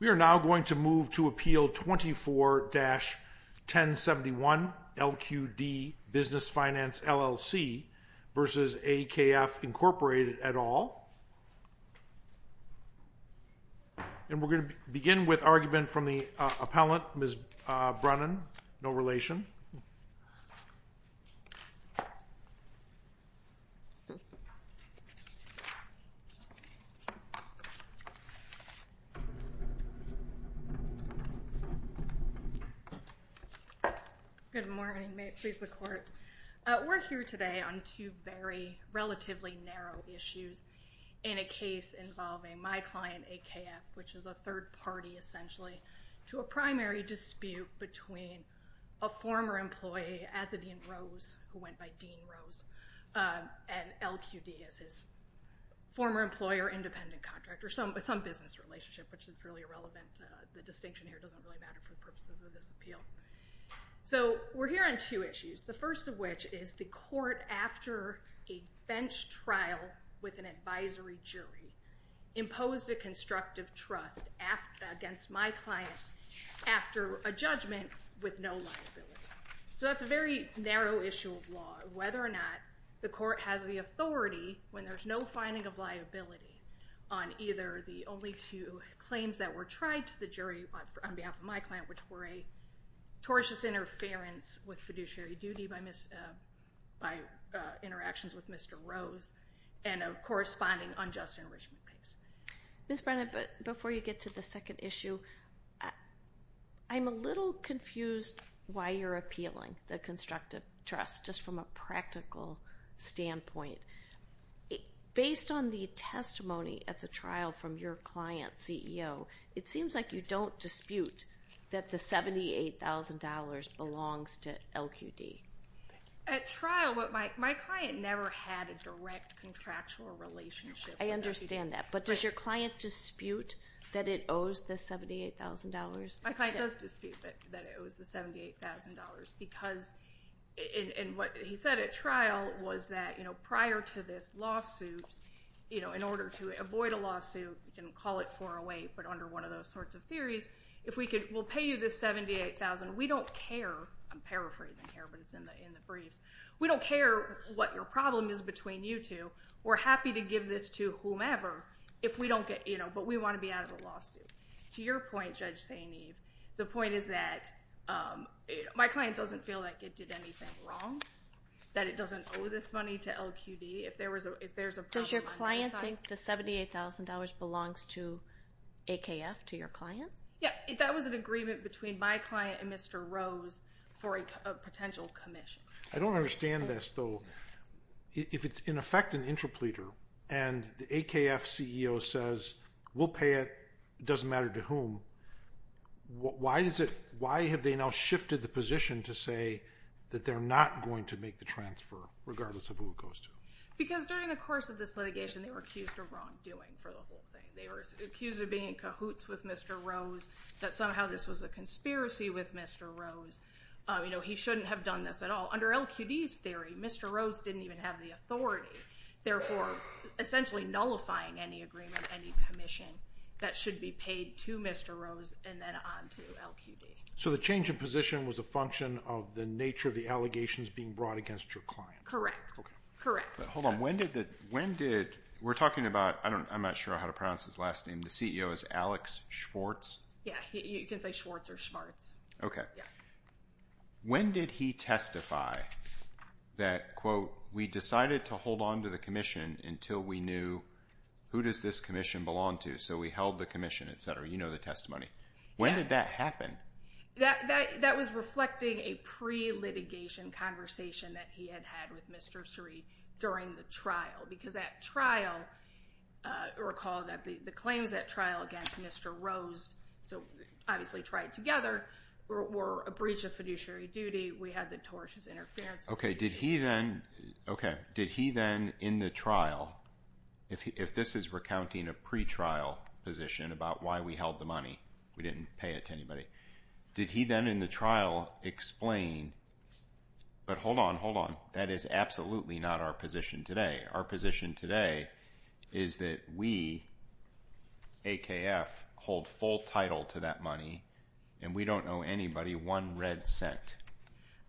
We are now going to move to Appeal 24-1071, LQD Business Finance, LLC v. AKF, Inc. et al. And we're going to begin with argument from the appellant, Ms. Brunon. No relation. Good morning. May it please the Court. We're here today on two very relatively narrow issues in a case involving my client, AKF, which is a third party, essentially, to a primary dispute between a former employee, Azzedine Rose, who went by Dean Rose, and LQD as his former employer, independent contractor. Some business relationship, which is really irrelevant. The distinction here doesn't really matter for the purposes of this appeal. So we're here on two issues, the first of which is the court, after a bench trial with an advisory jury, imposed a constructive trust against my client after a judgment with no liability. So that's a very narrow issue of law, whether or not the court has the authority, when there's no finding of liability, on either the only two claims that were tried to the jury on behalf of my client, which were a tortious interference with fiduciary duty by interactions with Mr. Rose, and a corresponding unjust enrichment case. Ms. Brunon, before you get to the second issue, I'm a little confused why you're appealing the constructive trust, just from a practical standpoint. Based on the testimony at the trial from your client, CEO, it seems like you don't dispute that the $78,000 belongs to LQD. At trial, my client never had a direct contractual relationship with LQD. I understand that, but does your client dispute that it owes the $78,000? My client does dispute that it was the $78,000, because what he said at trial was that prior to this lawsuit, in order to avoid a lawsuit, you can call it 408, but under one of those sorts of theories, we'll pay you this $78,000. We don't care. I'm paraphrasing here, but it's in the briefs. We don't care what your problem is between you two. We're happy to give this to whomever, but we want to be out of the lawsuit. To your point, Judge St. Eve, the point is that my client doesn't feel like it did anything wrong, that it doesn't owe this money to LQD. Does your client think the $78,000 belongs to AKF, to your client? Yeah, that was an agreement between my client and Mr. Rose for a potential commission. I don't understand this, though. If it's, in effect, an interpleader, and the AKF CEO says, we'll pay it, it doesn't matter to whom, why have they now shifted the position to say that they're not going to make the transfer, regardless of who it goes to? Because during the course of this litigation, they were accused of wrongdoing for the whole thing. They were accused of being in cahoots with Mr. Rose, that somehow this was a conspiracy with Mr. Rose. He shouldn't have done this at all. Under LQD's theory, Mr. Rose didn't even have the authority. Therefore, essentially nullifying any agreement, any commission, that should be paid to Mr. Rose and then on to LQD. So the change of position was a function of the nature of the allegations being brought against your client? Correct. Correct. Hold on. When did, we're talking about, I'm not sure how to pronounce his last name, the CEO is Alex Schwartz? Yeah, you can say Schwartz or Schmartz. Okay. When did he testify that, quote, we decided to hold on to the commission until we knew who does this commission belong to? So we held the commission, et cetera. You know the testimony. When did that happen? That was reflecting a pre-litigation conversation that he had had with Mr. Sreed during the trial. Because that trial, recall that the claims at trial against Mr. Rose, so obviously tried together, were a breach of fiduciary duty. We had the tortious interference. Okay. Did he then, in the trial, if this is recounting a pre-trial position about why we held the money, we didn't pay it to anybody, did he then in the trial explain, but hold on, hold on, that is absolutely not our position today. Our position today is that we, AKF, hold full title to that money and we don't owe anybody one red cent.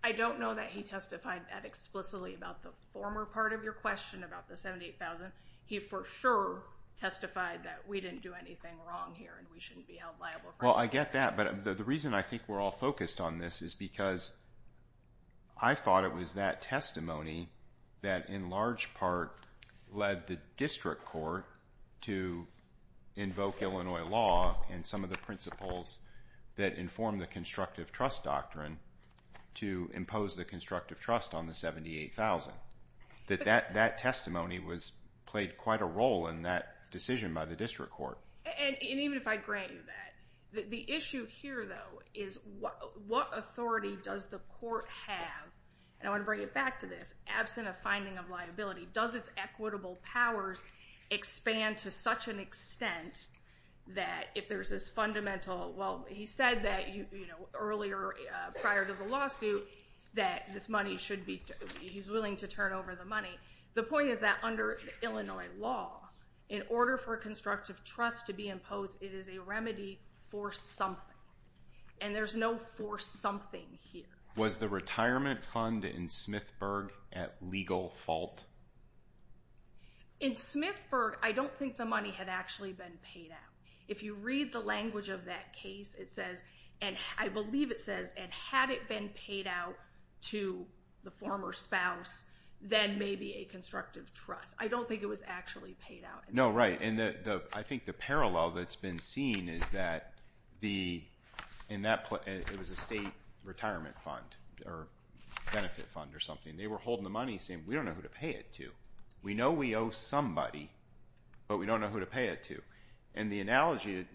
I don't know that he testified that explicitly about the former part of your question about the $78,000. He for sure testified that we didn't do anything wrong here and we shouldn't be held liable for it. Well, I get that, but the reason I think we're all focused on this is because I thought it was that testimony that in large part led the district court to invoke Illinois law and some of the principles that inform the constructive trust doctrine to impose the constructive trust on the $78,000. That testimony played quite a role in that decision by the district court. And even if I grant you that, the issue here, though, is what authority does the court have? And I want to bring it back to this. Absent a finding of liability, does its equitable powers expand to such an extent that if there's this fundamental, well, he said that earlier prior to the lawsuit that this money should be, he's willing to turn over the money. The point is that under Illinois law, in order for constructive trust to be imposed, it is a remedy for something. And there's no for something here. Was the retirement fund in Smithburg at legal fault? In Smithburg, I don't think the money had actually been paid out. If you read the language of that case, it says, and I believe it says, and had it been paid out to the former spouse, then maybe a constructive trust. I don't think it was actually paid out. No, right. And I think the parallel that's been seen is that it was a state retirement fund or benefit fund or something. They were holding the money and saying, we don't know who to pay it to. We know we owe somebody, but we don't know who to pay it to. And the analogy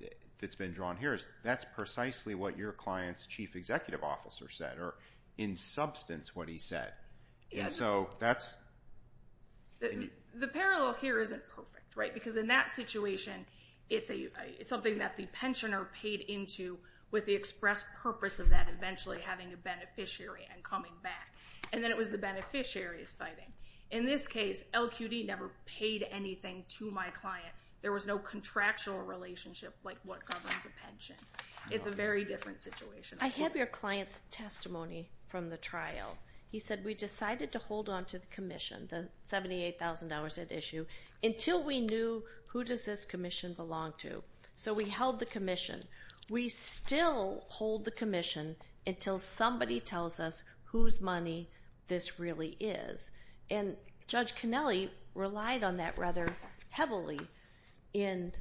that's been drawn here is that's precisely what your client's chief executive officer said or in substance what he said. The parallel here isn't perfect because in that situation, it's something that the pensioner paid into with the express purpose of that eventually having a beneficiary and coming back. And then it was the beneficiary fighting. In this case, LQD never paid anything to my client. There was no contractual relationship like what governs a pension. It's a very different situation. I have your client's testimony from the trial. He said, we decided to hold on to the commission, the $78,000 at issue, until we knew who does this commission belong to. So we held the commission. We still hold the commission until somebody tells us whose money this really is. And Judge Connelly relied on that rather heavily in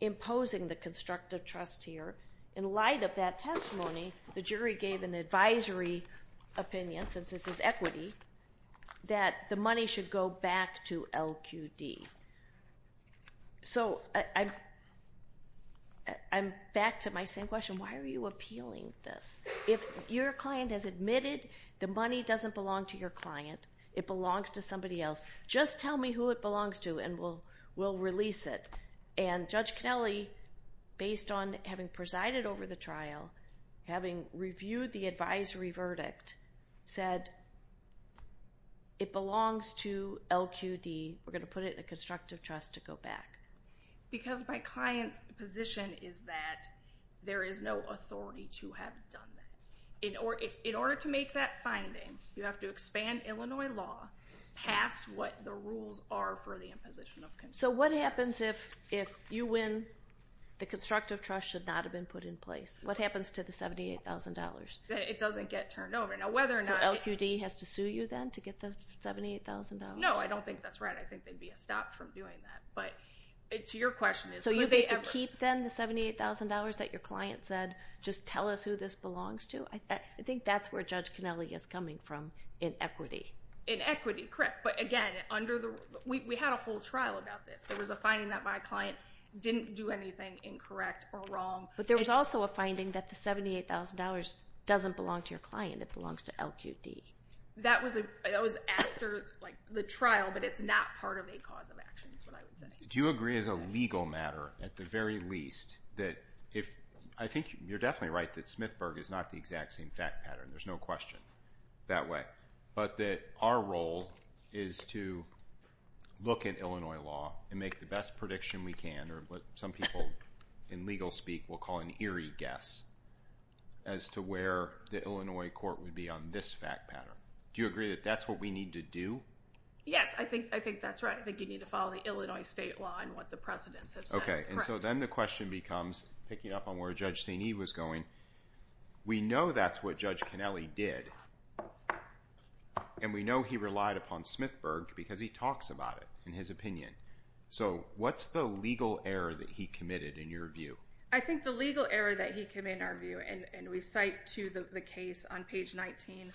imposing the constructive trust here. In light of that testimony, the jury gave an advisory opinion, since this is equity, that the money should go back to LQD. So I'm back to my same question. Why are you appealing this? If your client has admitted the money doesn't belong to your client, it belongs to somebody else, just tell me who it belongs to and we'll release it. And Judge Connelly, based on having presided over the trial, having reviewed the advisory verdict, said it belongs to LQD. We're going to put it in a constructive trust to go back. Because my client's position is that there is no authority to have done that. In order to make that finding, you have to expand Illinois law past what the rules are for the imposition of constructive trust. So what happens if you win? The constructive trust should not have been put in place. What happens to the $78,000? It doesn't get turned over. So LQD has to sue you then to get the $78,000? No, I don't think that's right. I think they'd be stopped from doing that. But to your question is, would they ever? So you get to keep then the $78,000 that your client said, just tell us who this belongs to? I think that's where Judge Connelly is coming from in equity. In equity, correct. But again, we had a whole trial about this. There was a finding that my client didn't do anything incorrect or wrong. But there was also a finding that the $78,000 doesn't belong to your client. It belongs to LQD. That was after the trial, but it's not part of a cause of action is what I would say. Do you agree as a legal matter, at the very least, that if I think you're definitely right that Smithburg is not the exact same fact pattern. There's no question that way. But that our role is to look at Illinois law and make the best prediction we can, or what some people in legal speak will call an eerie guess, as to where the Illinois court would be on this fact pattern. Do you agree that that's what we need to do? Yes, I think that's right. I think you need to follow the Illinois state law and what the presidents have said. Okay, and so then the question becomes, picking up on where Judge St. Eve was going, we know that's what Judge Kennelly did. And we know he relied upon Smithburg because he talks about it in his opinion. So what's the legal error that he committed in your view? I think the legal error that he committed in our view, and we cite to the case on page 19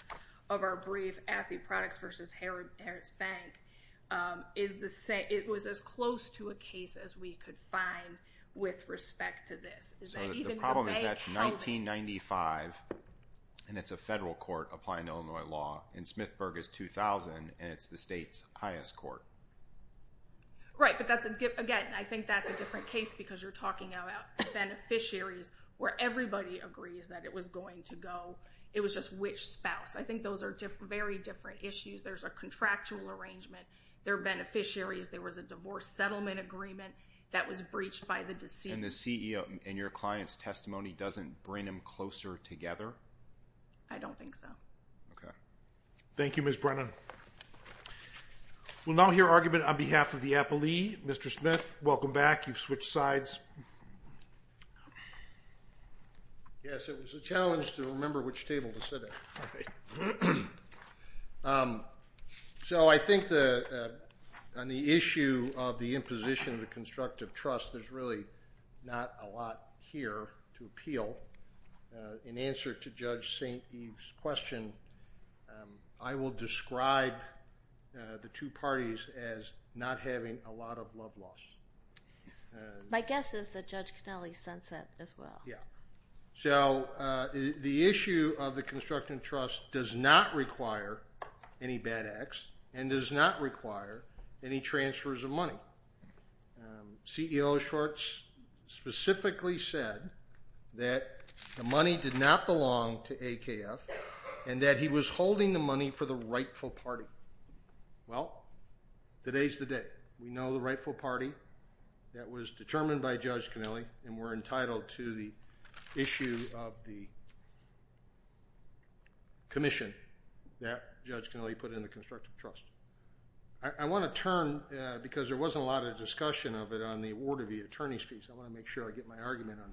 of our brief, Affie Products v. Harris Bank, it was as close to a case as we could find with respect to this. So the problem is that it's 1995, and it's a federal court applying Illinois law. And Smithburg is 2000, and it's the state's highest court. Right, but again, I think that's a different case because you're talking about beneficiaries where everybody agrees that it was going to go. It was just which spouse. I think those are very different issues. There's a contractual arrangement. They're beneficiaries. There was a divorce settlement agreement that was breached by the deceased. And the CEO in your client's testimony doesn't bring them closer together? I don't think so. Okay. Thank you, Ms. Brennan. We'll now hear argument on behalf of the appellee. Mr. Smith, welcome back. You've switched sides. Yes. Yes, it was a challenge to remember which table to sit at. So I think on the issue of the imposition of the constructive trust, there's really not a lot here to appeal. In answer to Judge St. Eve's question, I will describe the two parties as not having a lot of love lost. My guess is that Judge Connelly sensed that as well. Yeah. So the issue of the constructive trust does not require any bad acts and does not require any transfers of money. CEO Schwartz specifically said that the money did not belong to AKF and that he was holding the money for the rightful party. Well, today's the day. We know the rightful party that was determined by Judge Connelly, and we're entitled to the issue of the commission that Judge Connelly put in the constructive trust. I want to turn, because there wasn't a lot of discussion of it on the award of the attorney's fees. I want to make sure I get my argument on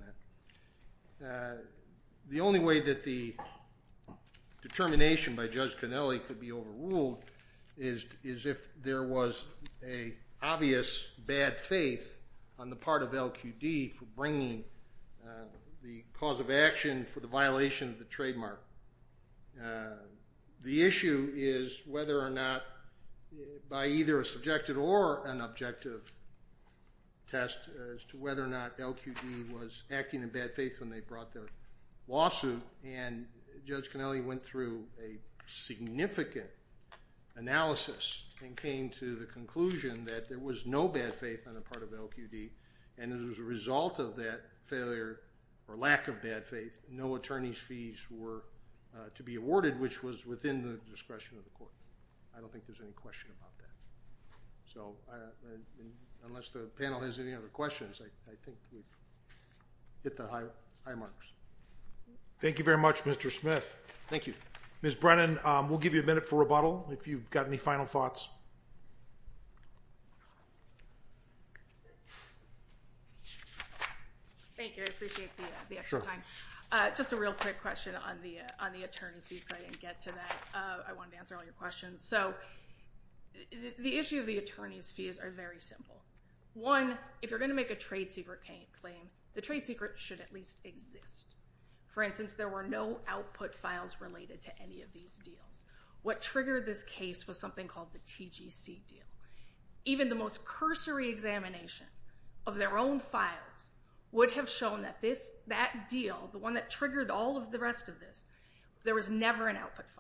that. The only way that the determination by Judge Connelly could be overruled is if there was an obvious bad faith on the part of LQD for bringing the cause of action for the violation of the trademark. The issue is whether or not by either a subjective or an objective test as to whether or not LQD was acting in bad faith when they brought their lawsuit, and Judge Connelly went through a significant analysis and came to the conclusion that there was no bad faith on the part of LQD, and as a result of that failure or lack of bad faith, no attorney's fees were to be awarded, which was within the discretion of the court. I don't think there's any question about that. Unless the panel has any other questions, I think we've hit the high marks. Thank you very much, Mr. Smith. Thank you. Ms. Brennan, we'll give you a minute for rebuttal if you've got any final thoughts. Thank you. I appreciate the extra time. Just a real quick question on the attorney's fees. I didn't get to that. I wanted to answer all your questions. So the issue of the attorney's fees are very simple. One, if you're going to make a trade secret claim, the trade secret should at least exist. For instance, there were no output files related to any of these deals. What triggered this case was something called the TGC deal. Even the most cursory examination of their own files would have shown that that deal, the one that triggered all of the rest of this, there was never an output file.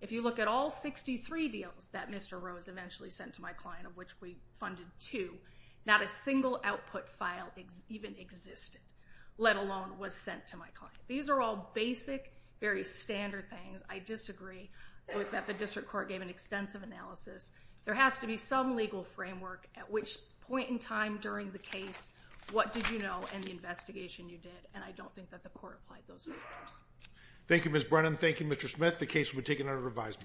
If you look at all 63 deals that Mr. Rose eventually sent to my client, of which we funded two, not a single output file even existed, let alone was sent to my client. These are all basic, very standard things. I disagree that the district court gave an extensive analysis. There has to be some legal framework at which point in time during the case, what did you know in the investigation you did, and I don't think that the court applied those factors. Thank you, Ms. Brennan. Thank you, Mr. Smith. The case will be taken under revision.